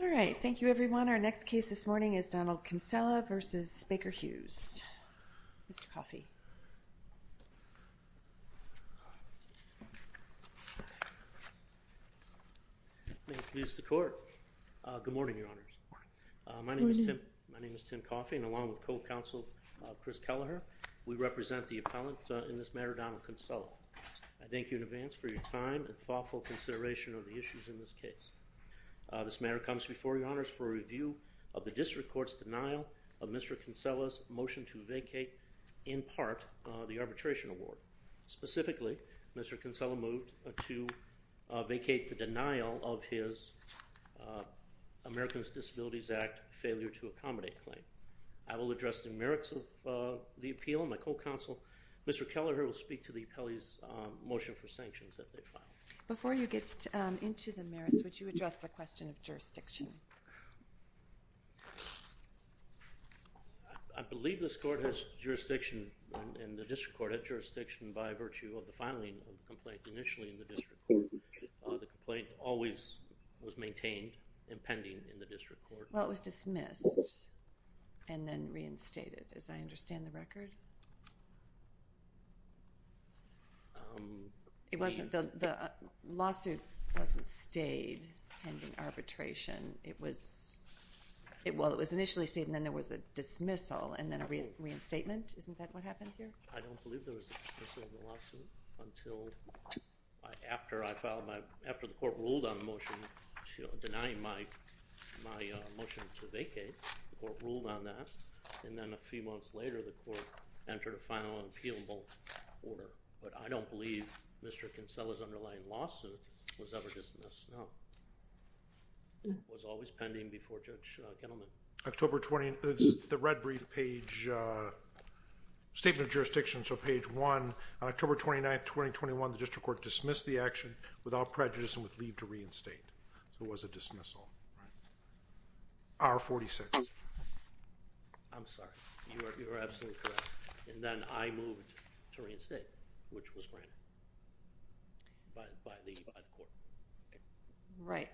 All right, thank you everyone. Our next case this morning is Donald Kinsella v. Baker Hughes. Mr. Coffey. Good morning, Your Honors. My name is Tim Coffey and along with co-counsel Chris Kelleher, we represent the appellant in this matter, Donald Kinsella. I thank you in advance for your time and thoughtful consideration of the matter. This matter comes before you, Your Honors, for review of the district court's denial of Mr. Kinsella's motion to vacate, in part, the arbitration award. Specifically, Mr. Kinsella moved to vacate the denial of his Americans Disabilities Act failure to accommodate claim. I will address the merits of the appeal. My co-counsel, Mr. Kelleher, will speak to the appellee's motion for sanctions that they filed. Before you get into the merits, would you address the question of jurisdiction? I believe this court has jurisdiction and the district court had jurisdiction by virtue of the filing of the complaint initially in the district court. The complaint always was maintained and pending in the district court. Well, it was dismissed and then reinstated, as I understand the record. It wasn't, the lawsuit wasn't stayed pending arbitration. It was, well, it was initially stayed and then there was a dismissal and then a reinstatement. Isn't that what happened here? I don't believe there was a dismissal of the lawsuit until, after I filed my, after the court ruled on the motion, denying my motion to vacate, the court ruled on that, and then a few months later, the court entered a final unappealable order, but I don't believe Mr. Kinsella's underlying lawsuit was ever dismissed, no. It was always pending before Judge Kittleman. October 20, the red brief page, Statement of Jurisdiction, so page one, on October 29th, 2021, the district court dismissed the action without prejudice and with leave to reinstate. So it was a dismissal. Hour 46. I'm sorry, you are absolutely correct, and then I moved to reinstate, which was granted by the court. Right,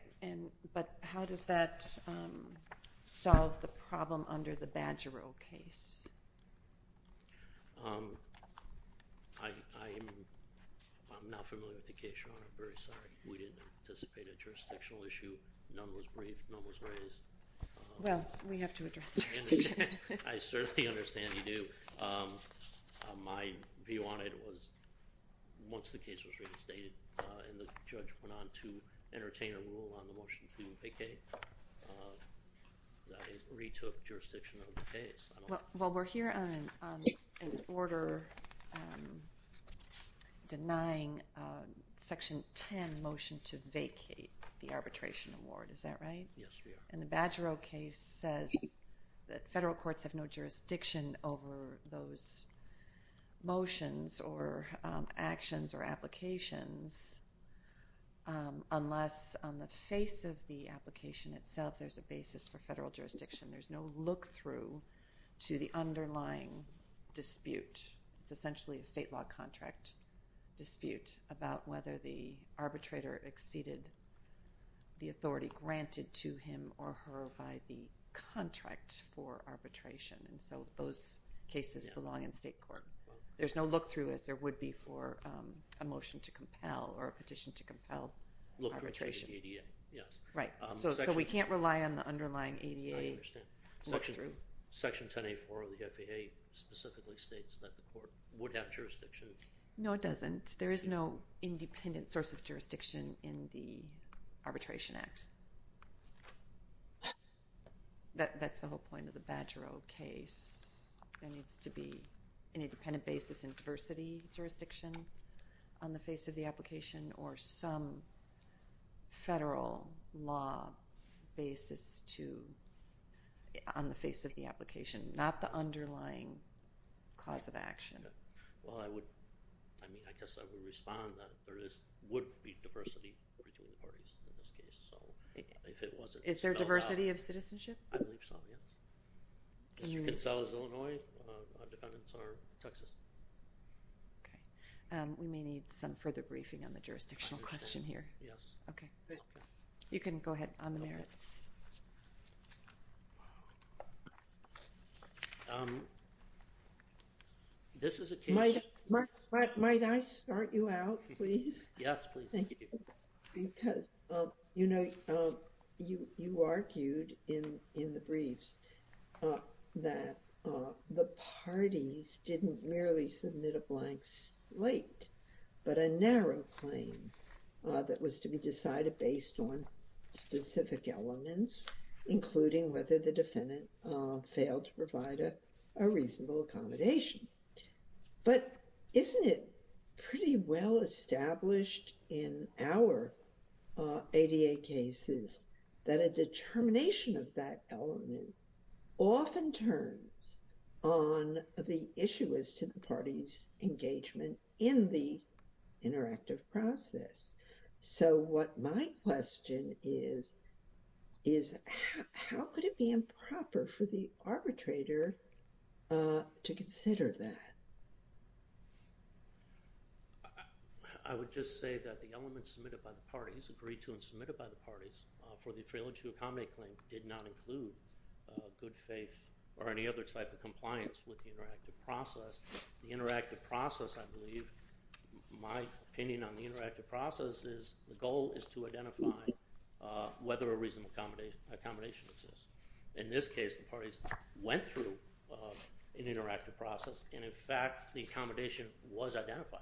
but how does that solve the problem under the Badgerill case? I'm not familiar with the case, Your Honor, I'm very sorry. We didn't anticipate a jurisdictional issue, none was briefed, none was raised. Well, we have to address the jurisdiction. I certainly understand you do. My view on it was, once the case was reinstated, and the judge went on to entertain a rule on the motion to vacate, I retook jurisdiction of the case. Well, we're here on an order denying Section 10 motion to vacate the arbitration award, is that right? Yes, we are. And the Badgerill case says that federal courts have no jurisdiction over those motions or actions or applications unless, on the face of the application itself, there's a basis for federal jurisdiction. There's no look-through to the underlying dispute. It's essentially a state law contract dispute about whether the arbitrator exceeded the authority granted to him or her by the contract for the arbitration, so those cases belong in state court. There's no look-through as there would be for a motion to compel or a petition to compel arbitration. Look-through to the ADA, yes. Right, so we can't rely on the underlying ADA look-through. Section 10A4 of the FAA specifically states that the court would have jurisdiction. No, it doesn't. There is no independent source of jurisdiction in the Arbitration Act. That's the whole point of the Badgerill case. There needs to be an independent basis in diversity jurisdiction on the face of the application or some federal law basis on the face of the application, not the underlying cause of action. Well, I would, I mean, I guess I would respond that there would be diversity between the parties in this case, so if it wasn't spelled out. Is there diversity of citizenship? I believe so, yes. As you can tell, as Illinois, our defendants are Texas. Okay. We may need some further briefing on the jurisdictional question here. Yes. Okay. You can go ahead on the merits. This is a case. Might I start you out, please? Yes, please. Thank you. Because, you know, you argued in the briefs that the parties didn't merely submit a blank slate, but a narrow claim that was to be decided based on specific elements. Including whether the defendant failed to provide a reasonable accommodation. But isn't it pretty well established in our ADA cases that a determination of that element often turns on the issuers to the parties' engagement in the interactive process? So what my question is, is how could it be improper for the arbitrator to consider that? I would just say that the elements submitted by the parties, agreed to and submitted by the parties, for the failure to accommodate claim did not include good faith or any other type of compliance with the interactive process. The interactive process, I believe, my opinion on the interactive process is the goal is to identify whether a reasonable accommodation exists. In this case, the parties went through an interactive process and, in fact, the accommodation was identified.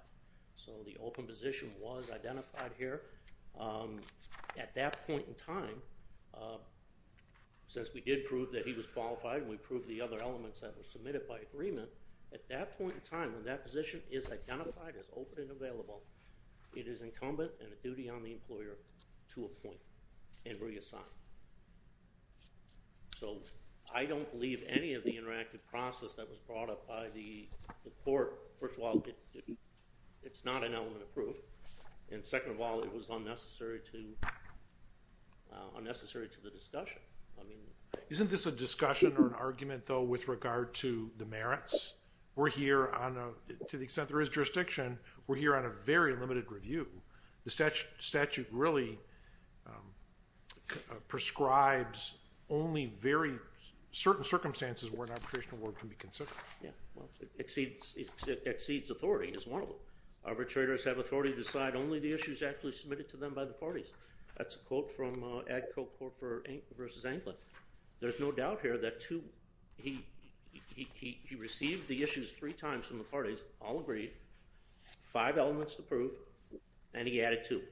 So the open position was identified here. At that point in time, since we did prove that he was qualified and we proved the other elements that were submitted by agreement, at that point in time when that position is identified as open and available, it is incumbent and a duty on the employer to appoint and reassign. So I don't believe any of the interactive process that was brought up by the court, first of all, it's not an element approved. And second of all, it was unnecessary to the discussion. Isn't this a discussion or an argument though with regard to the merits? We're here on, to the extent there is jurisdiction, we're here on a very limited review. The statute really prescribes only very certain circumstances where an arbitration award can be considered. Yeah, well, it exceeds authority, is one of them. Arbitrators have authority to decide only the issues actually submitted to them by the parties. That's a quote from AgCorp versus Anglin. There's no doubt here that he received the issues three times from the parties, all agreed, five elements approved, and he added two.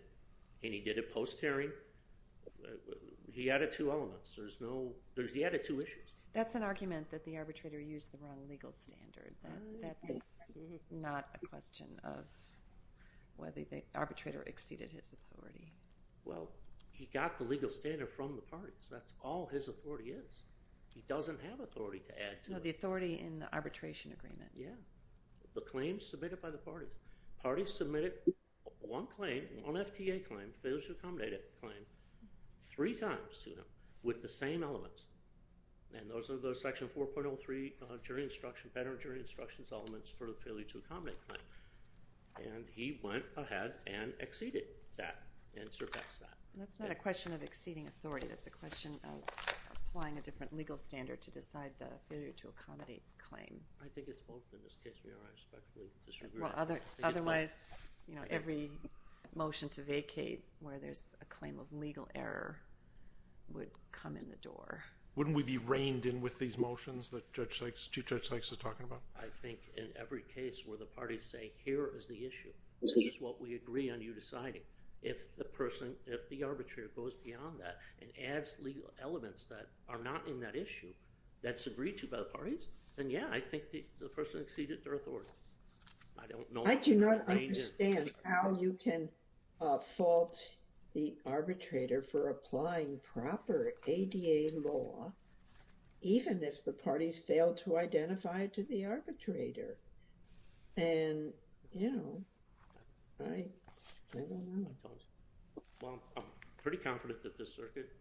And he did it post-hearing. He added two elements. He added two issues. That's an argument that the arbitrator used the wrong legal standard. That's not a question of whether the arbitrator exceeded his authority. Well, he got the legal standard from the parties. That's all his authority is. He doesn't have authority to add to it. No, the authority in the arbitration agreement. Yeah. The claims submitted by the parties. Parties submitted one claim, one FTA claim, failure to accommodate claim, three times to them with the same elements. And those are those section 4.03 jury instruction, better jury instruction elements for the failure to accommodate claim. And he went ahead and exceeded that and surpassed that. That's not a question of exceeding authority. That's a question of applying a different legal standard to decide the failure to accommodate claim. I think it's both in this case, Mayor. I respectfully disagree. Otherwise, every motion to vacate where there's a claim of legal error would come in the door. Wouldn't we be reined in with these motions that Chief Judge Sykes is talking about? I think in every case where the parties say, here is the issue. This is what we agree on you deciding. If the person, if the arbitrator goes beyond that and adds legal elements that are not in that issue that's agreed to by the parties, then yeah, I think the person exceeded their authority. I do not understand how you can fault the arbitrator for applying proper ADA law, even if the parties failed to identify it to the arbitrator. I'm pretty confident that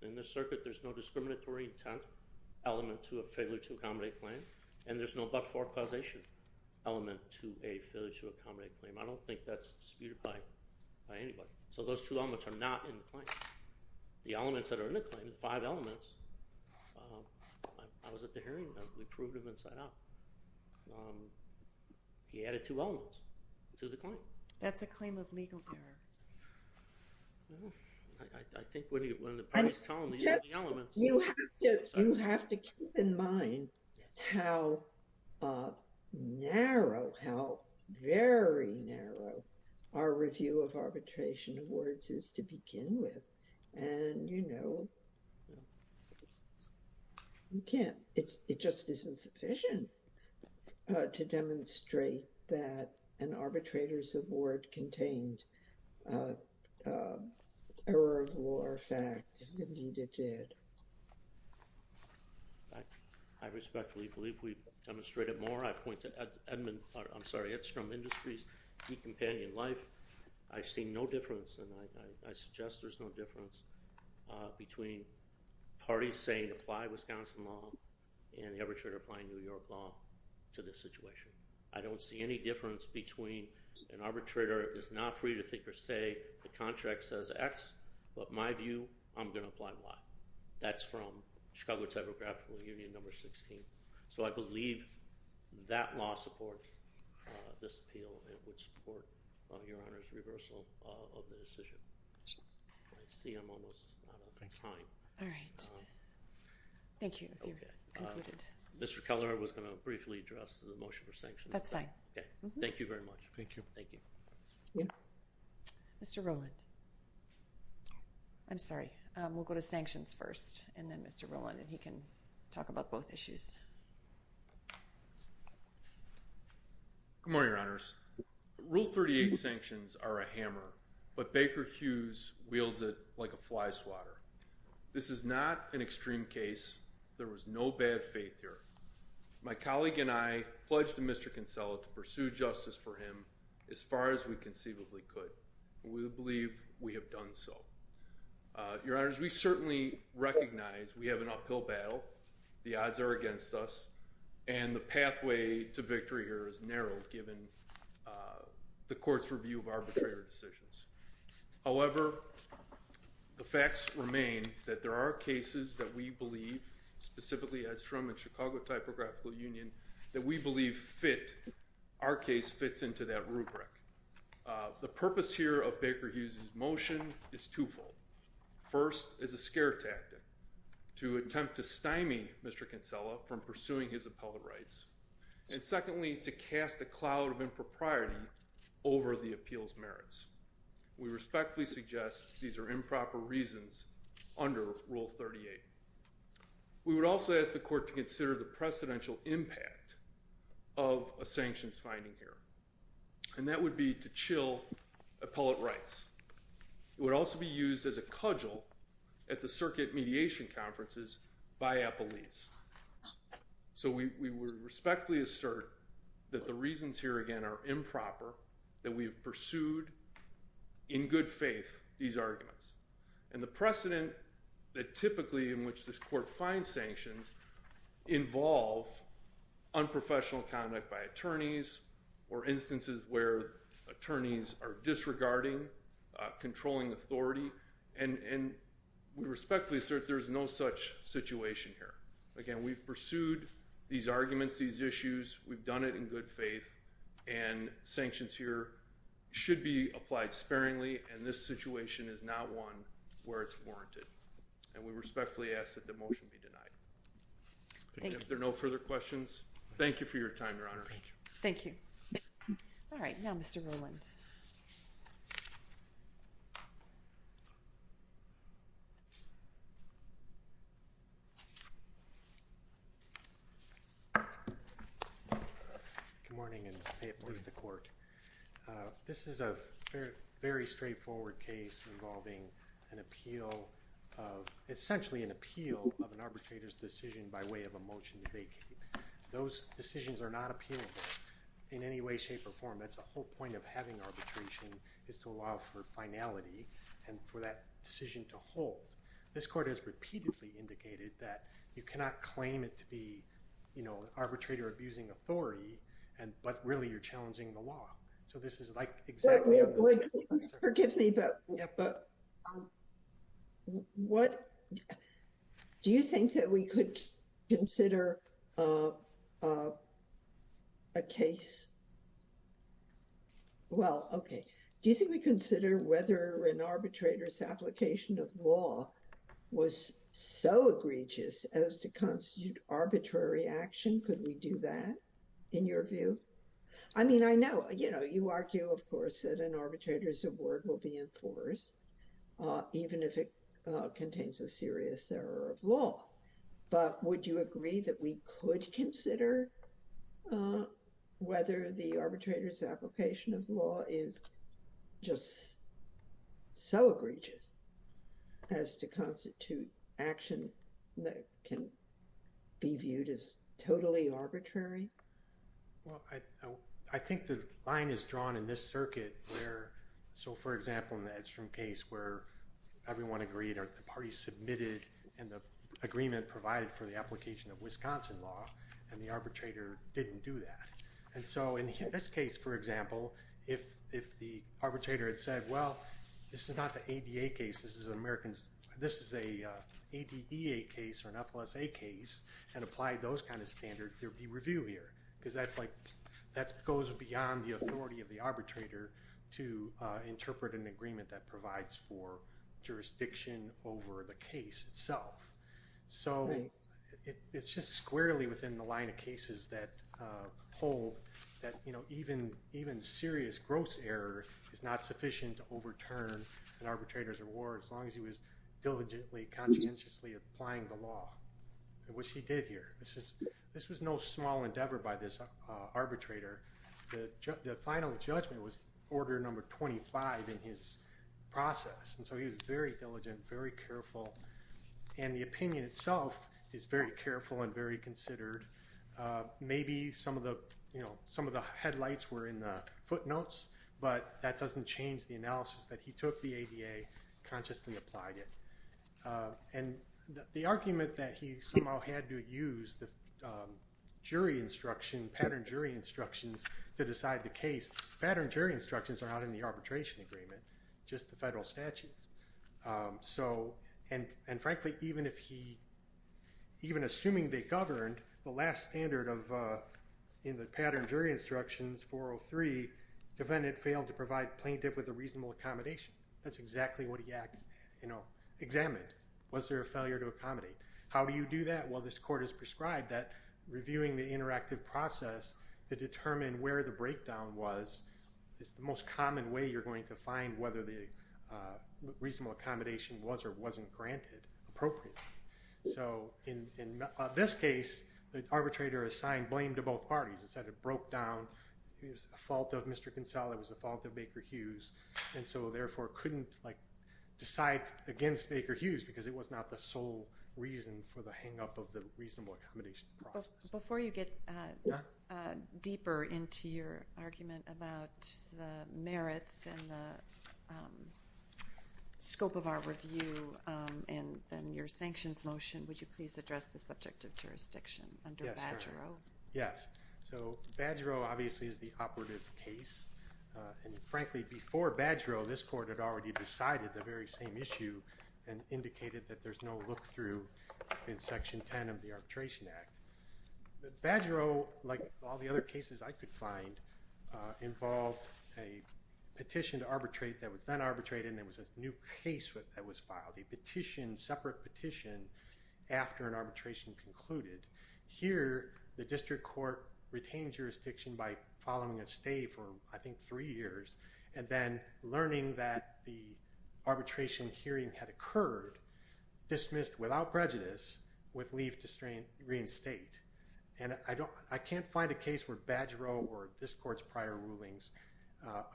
in this circuit there's no discriminatory intent element to a failure to accommodate claim. And there's no but-for causation element to a failure to accommodate claim. I don't think that's disputed by anybody. So those two elements are not in the claim. The elements that are in the claim, the five elements, I was at the hearing and we proved them inside out. He added two elements to the claim. That's a claim of legal error. I think when the parties tell him these are the elements. You have to keep in mind how narrow, how very narrow our review of arbitration awards is to begin with. And, you know, you can't, it just isn't sufficient to demonstrate that an arbitrator's award contained error of law or fact. Indeed it did. I respectfully believe we've demonstrated more. I point to Edmund, I'm sorry, Edstrom Industries, Decompanion Life. I've seen no difference and I suggest there's no difference between parties saying apply Wisconsin law and the arbitrator applying New York law to this situation. I don't see any difference between an arbitrator is not free to think or say the contract says X, but my view, I'm going to apply Y. That's from Chicago Telegraphical Union number 16. So I believe that law supports this appeal and would support your Honor's reversal of the decision. I see I'm almost out of time. All right. Thank you. Mr. Keller was going to briefly address the motion for sanctions. That's fine. Thank you very much. Thank you. Thank you. Mr. Rowland. I'm sorry. We'll go to sanctions first and then Mr. Rowland and he can talk about both issues. Good morning, Your Honors. Rule 38 sanctions are a hammer, but Baker Hughes wields it like a flyswatter. This is not an extreme case. There was no bad faith here. My colleague and I pledged to Mr. Kinsella to pursue justice for him as far as we conceivably could. We believe we have done so. Your Honors, we certainly recognize we have an uphill battle. The odds are against us. And the pathway to victory here is narrow given the court's review of arbitrator decisions. However, the facts remain that there are cases that we believe, specifically Edstrom and Chicago Typographical Union, that we believe fit, our case fits into that rubric. The purpose here of Baker Hughes' motion is twofold. First, as a scare tactic to attempt to stymie Mr. Kinsella from pursuing his appellate rights. And secondly, to cast a cloud of impropriety over the appeal's merits. We respectfully suggest these are improper reasons under Rule 38. We would also ask the court to consider the precedential impact of a sanctions finding here. And that would be to chill appellate rights. It would also be used as a cudgel at the circuit mediation conferences by appellees. So we would respectfully assert that the reasons here again are improper, that we have pursued in good faith these arguments. And the precedent that typically in which this court finds sanctions involve unprofessional conduct by attorneys, or instances where attorneys are disregarding, controlling authority. And we respectfully assert there's no such situation here. Again, we've pursued these arguments, these issues, we've done it in good faith. And sanctions here should be applied sparingly, and this situation is not one where it's warranted. And we respectfully ask that the motion be denied. If there are no further questions, thank you for your time, Your Honor. Thank you. All right, now Mr. Rowland. This is a very straightforward case involving an appeal of, essentially an appeal of an arbitrator's decision by way of a motion to vacate. Those decisions are not appealable in any way, shape, or form. That's the whole point of having arbitration, is to allow for finality, and for that decision to hold. This court has repeatedly indicated that you cannot claim it to be, you know, an arbitrator abusing authority, but really you're challenging the law. So this is like exactly- Wait, wait, wait. Forgive me, but- Yeah. But what, do you think that we could consider a case? Well, okay. Do you think we consider whether an arbitrator's application of law was so egregious as to constitute arbitrary action? Could we do that, in your view? I mean, I know, you know, you argue, of course, that an arbitrator's award will be enforced, even if it contains a serious error of law. But would you agree that we could consider whether the arbitrator's application of law is just so egregious as to constitute action that can be viewed as totally arbitrary? Well, I think the line is drawn in this circuit where, so for example, in the Edstrom case, where everyone agreed, or the party submitted, and the agreement provided for the application of Wisconsin law, and the arbitrator didn't do that. And so in this case, for example, if the arbitrator had said, well, this is not the ADA case, this is an American, this is a ADEA case, or an FLSA case, and applied those kind of standards, there would be review here. Because that's like, that goes beyond the authority of the arbitrator to interpret an agreement that provides for jurisdiction over the case itself. So it's just squarely within the line of cases that hold that even serious gross error is not sufficient to overturn an arbitrator's reward as long as he was diligently, conscientiously applying the law, which he did here. This was no small endeavor by this arbitrator. The final judgment was order number 25 in his process. And so he was very diligent, very careful. And the opinion itself is very careful and very considered. Maybe some of the, you know, some of the headlights were in the footnotes, but that doesn't change the analysis that he took the ADA, consciously applied it. And the argument that he somehow had to use the jury instruction, pattern jury instructions, to decide the case, pattern jury instructions are not in the arbitration agreement, just the federal statute. So, and frankly, even if he, even assuming they governed the last standard of, in the pattern jury instructions 403, defendant failed to provide plaintiff with a reasonable accommodation. That's exactly what he, you know, examined. Was there a failure to accommodate? How do you do that? Well, this court has prescribed that reviewing the interactive process to determine where the breakdown was is the most common way you're going to find whether the reasonable accommodation was or wasn't granted appropriately. So in this case, the arbitrator assigned blame to both parties and said it broke down. It was a fault of Mr. Kinsella. It was a fault of Baker Hughes. And so therefore couldn't like decide against Baker Hughes because it was not the sole reason for the hangup of the reasonable accommodation process. Before you get deeper into your argument about the merits and the scope of our review and then your sanctions motion, would you please address the subject of jurisdiction under Badgerow? Yes. So Badgerow obviously is the operative case. And frankly, before Badgerow, this court had already decided the very same issue and indicated that there's no look through in section 10 of the Arbitration Act. Badgerow, like all the other cases I could find, involved a petition to arbitrate that was then arbitrated and there was a new case that was filed with a petition, separate petition, after an arbitration concluded. Here, the district court retained jurisdiction by following a stay for I think three years and then learning that the arbitration hearing had occurred, dismissed without prejudice with leave to reinstate. And I can't find a case where Badgerow or this court's prior rulings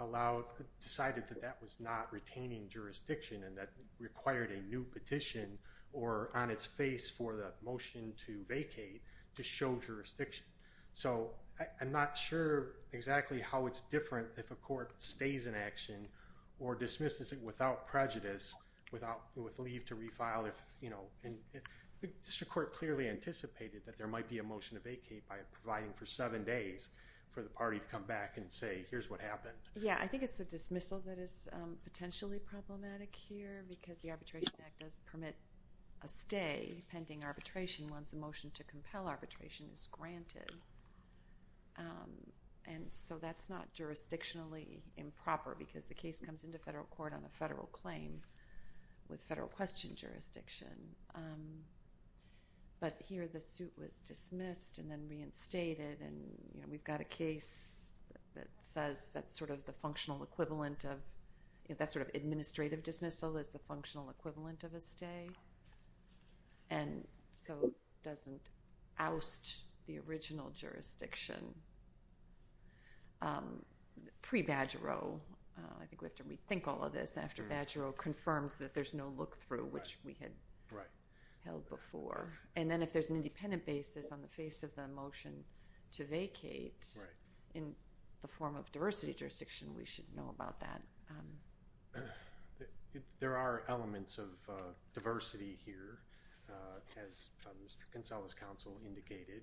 allowed, decided that that was not retaining jurisdiction and that required a new petition or on its face for the motion to vacate to show jurisdiction. So I'm not sure exactly how it's different if a court stays in action or dismisses it without prejudice, with leave to refile. The district court clearly anticipated that there might be a motion to vacate by providing for seven days for the party to come back and say, here's what happened. Yeah, I think it's the dismissal that is potentially problematic here because the Arbitration Act does permit a stay pending arbitration once a motion to compel arbitration is granted. And so that's not jurisdictionally improper because the case comes into federal court on a federal claim with federal question jurisdiction. But here, the suit was dismissed and then reinstated and we've got a case that says that's sort of the functional equivalent of that sort of administrative dismissal is the functional equivalent of a stay and so doesn't oust the original jurisdiction. Pre-Badgero, I think we have to rethink all of this after Badgero confirmed that there's no look-through which we had held before. And then if there's an independent basis on the face of the motion to vacate in the form of diversity jurisdiction, we should know about that. There are elements of diversity here as Mr. Goncalves' counsel indicated.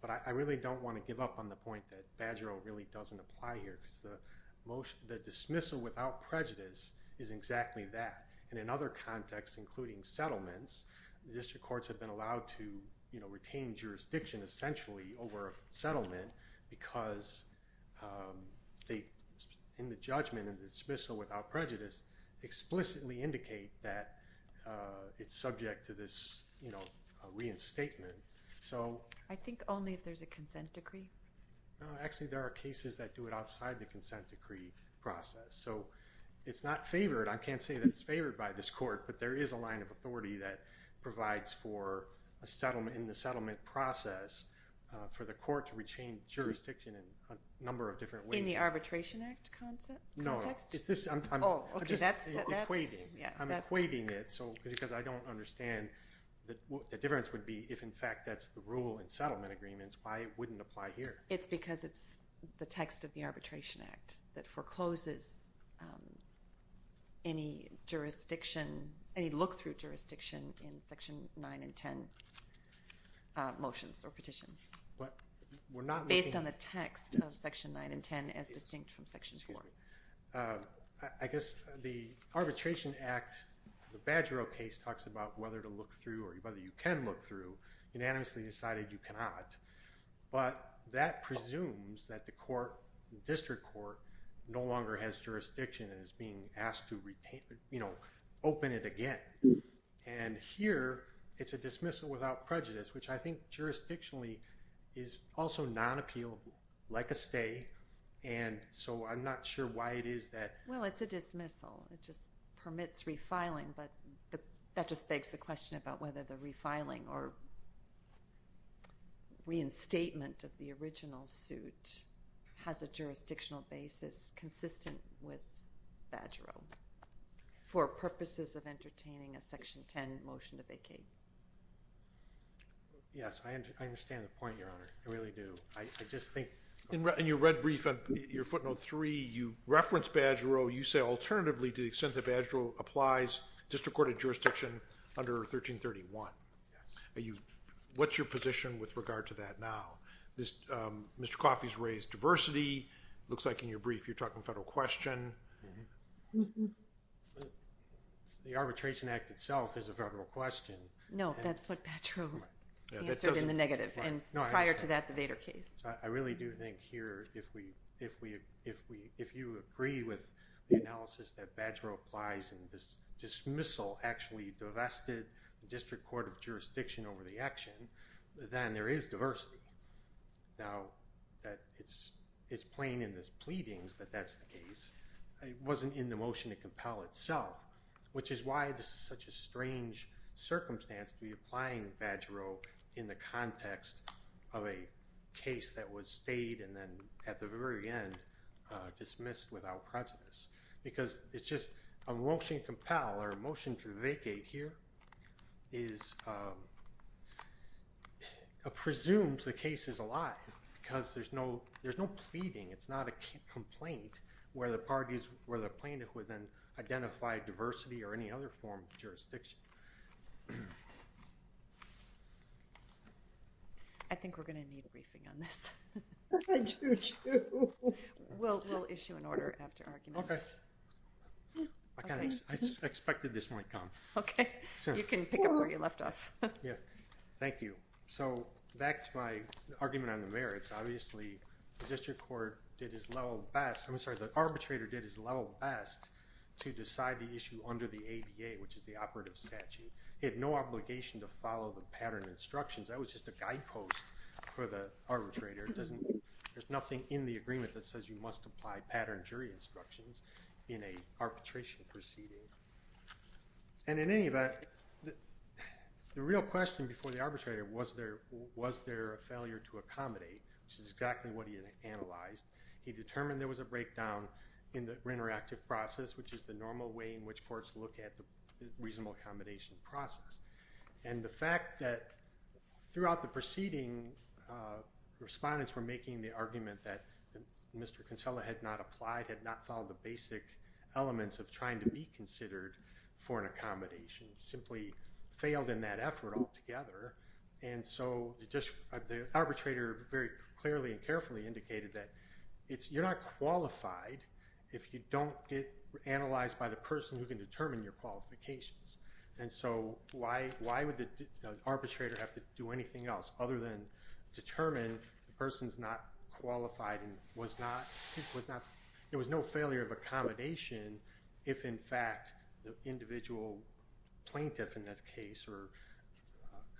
But I really don't want to give up on the point that Badgero really doesn't apply here because the dismissal without prejudice is exactly that. And in other contexts, including settlements, the district courts have been allowed to retain jurisdiction essentially over a settlement because in the judgment of the dismissal without prejudice, explicitly indicate that it's subject to this reinstatement. So... I think only if there's a consent decree. Actually, there are cases that do it outside the consent decree process. So it's not favored. I can't say that it's favored by this court, but there is a line of authority that provides for a settlement in the settlement process for the court to retain jurisdiction in a number of different ways. In the Arbitration Act context? No, no. Oh, okay, that's... I'm just equating. I'm equating it because I don't understand the difference would be if in fact that's the rule in settlement agreements, why it wouldn't apply here. It's because it's the text of the Arbitration Act that forecloses any jurisdiction, any look-through jurisdiction in Section 9 and 10 motions or petitions based on the text of Section 9 and 10 as distinct from Section 4. I guess the Arbitration Act, the Badgero case, talks about whether to look through or whether you can look through. Unanimously decided you cannot. But that presumes that the court, the district court, no longer has jurisdiction and is being asked to open it again. And here, it's a dismissal without prejudice, which I think jurisdictionally is also non-appealable like a stay. And so I'm not sure why it is that... Well, it's a dismissal. It just permits refiling. But that just begs the question about whether the refiling or reinstatement of the original suit has a jurisdictional basis consistent with Badgero for purposes of entertaining a Section 10 motion to vacate. Yes, I understand the point, Your Honor. I really do. I just think... In your red brief, your footnote 3, you reference Badgero. You say, alternatively, to the extent that Badgero applies, district court had jurisdiction under 1331. Yes. What's your position with regard to that now? Mr. Coffey's raised diversity. Looks like in your brief you're talking federal question. The Arbitration Act itself is a federal question. No, that's what Badgero answered in the negative. And prior to that, the Vader case. I really do think here if you agree with the analysis that Badgero applies and this dismissal actually divested the District Court of Jurisdiction over the action, then there is diversity. Now, it's plain in the pleadings that that's the case. It wasn't in the motion to compel itself, which is why this is a strange circumstance to be applying Badgero in the context of a case that was stayed and then at the very end dismissed without prejudice. Because it's just a motion to compel or a motion to vacate here is presumed the case is alive because there's no pleading. It's not a complaint where the plaintiff would then identify diversity or any other form of jurisdiction. I think we're going to need a briefing on this. I do too. We'll issue an order after arguments. Okay. I expected this might come. Okay. You can pick up where you left off. Thank you. So, back to my argument on the merits. Obviously, the District Court did its level best. I'm sorry, the arbitrator did his level best to decide the issue under the ADA which is the operative statute. He had no obligation to follow the pattern instructions. That was just a guidepost for the arbitrator. There's nothing in the agreement that says you must apply pattern jury instructions in an arbitration proceeding. And in any event, the real question before the arbitrator was there a failure to accommodate which is exactly what he analyzed. He determined there was a breakdown in the interactive process which is the normal way in which courts look at the reasonable accommodation process. And the fact that throughout the proceeding respondents were making the argument that Mr. Kinsella had not applied had not followed the basic elements of trying to be considered for an accommodation simply failed in that effort altogether. And so, the arbitrator very clearly and carefully indicated that you're not qualified if you don't get analyzed by the person who can determine your qualifications. And so, why would the arbitrator have to do anything else other than determine the person's not qualified and was not there was no failure of accommodation if in fact the individual plaintiff in that case or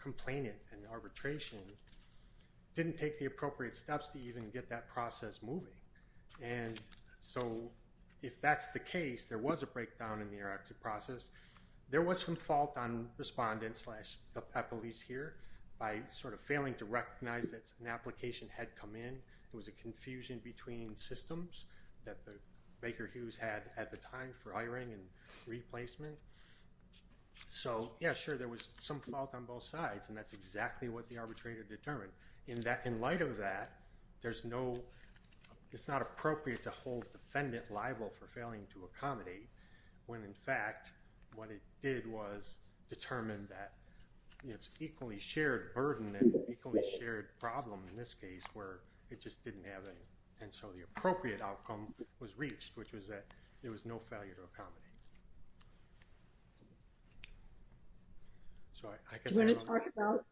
complainant in the arbitration didn't take the appropriate steps to even get that process moving. And so, if that's the case there was a breakdown in the erratic process. There was some fault on respondents slash the police here by sort of failing to recognize that an application had come in. It was a confusion between systems that Baker Hughes had at the time for hiring and replacement. So, yeah, sure there was some fault on both sides and that's exactly what the arbitrator determined. In light of that there's no it's not appropriate to hold defendant liable for failing to accommodate when in fact what it did was determine that it's equally shared burden and equally shared problem in this case where it just didn't have any and so the appropriate outcome was reached which was that there was no failure to accommodate. So, I guess Do you want to talk about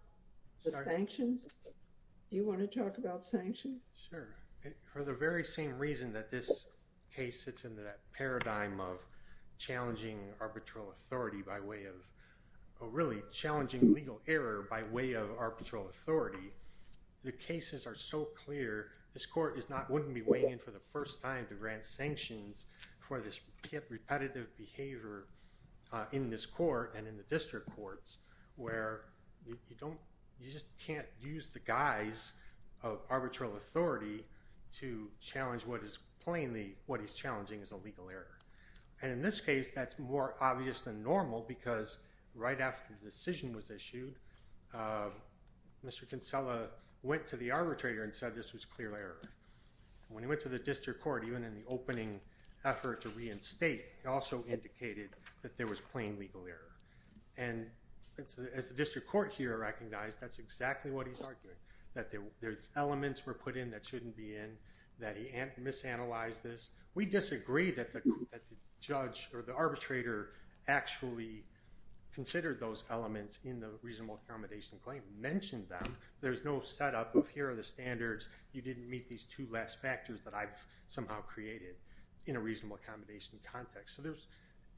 the sanctions? Do you want to talk about sanctions? Sure. For the very same reason that this case sits in that paradigm of challenging arbitral authority by way of a really challenging legal error by way of arbitral authority the cases are so clear this court is not wouldn't be weighing in for the first time to grant sanctions for this repetitive behavior in this court and in the district courts where you don't you just can't use the guise of arbitral authority to challenge what is plainly what is challenging is a legal error and in this case that's more obvious than normal because right after the decision was issued Mr. Kinsella went to the arbitrator and said this was clear error. When he went to the district court even in the opening effort to reinstate he also indicated that there was plain legal error and as the district court here recognized that's exactly what he's arguing that there's elements were put in that shouldn't be in that he misanalyzed this. We disagree that the judge or the arbitrator actually considered those elements in the reasonable accommodation claim mentioned that there's no setup of here are the standards you didn't meet these two last factors that I've somehow created in a reasonable accommodation context.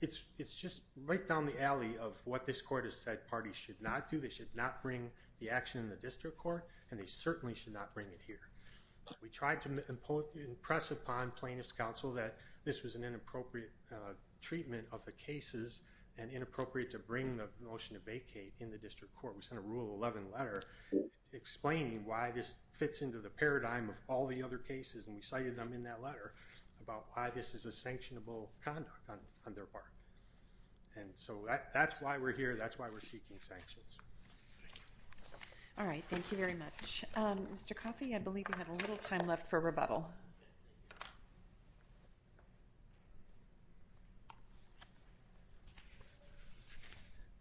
It's just right down the alley of what this court has said parties should not do. They should not bring the action in the district court and they certainly should not bring it here. We tried to impress upon plaintiff's counsel that this was an inappropriate treatment of the cases and inappropriate to bring the motion to vacate in the district court. We sent a rule 11 letter explaining why this fits into the paradigm of all the other cases and we cited them in that letter about why this is a sanctionable conduct on their part. That's why we're here and that's why we're seeking sanctions. Thank you. Thank you very much. Mr. Coffey, I believe you have a little time left for rebuttal.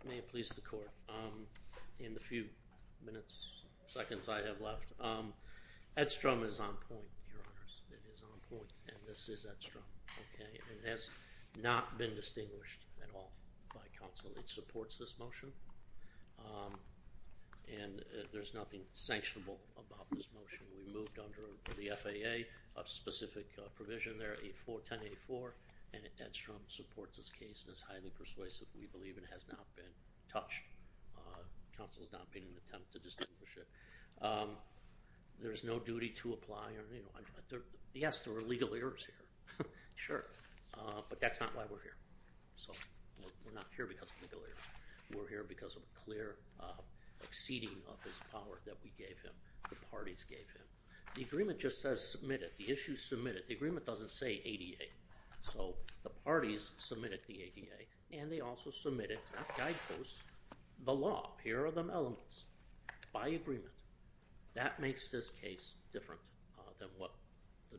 May it please the court, in the few minutes, seconds I have left, Strum is on point, Your Honors. It is on point and this is Ed Strum. It has not been distinguished at all by counsel. It supports this motion and there's nothing sanctionable about this and Ed Strum supports this case and is highly persuasive and has not been touched. Counsel has not been in an attempt to distinguish it. There's no duty to apply. Yes, there are legal errors here. Sure. But that's not why we're here. So we're not here because of legal errors. We're here because of a clear exceeding of his power that we gave him, the parties gave him. The agreement just says submitted. The issue is submitted. The agreement doesn't say ADA. So the parties submitted the ADA and they also submitted that guidepost the law. Here are the elements by agreement. That makes this case different than what the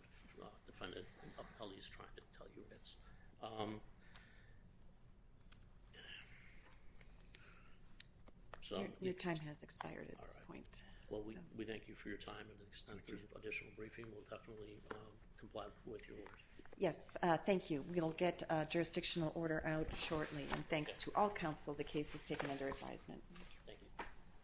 defendant is trying to tell you. Your time has expired at this point. We thank you for your time and an extended additional briefing. We'll definitely comply with your orders. Yes, thank you. We'll get jurisdictional order out shortly and thanks to all counsel the case is taken under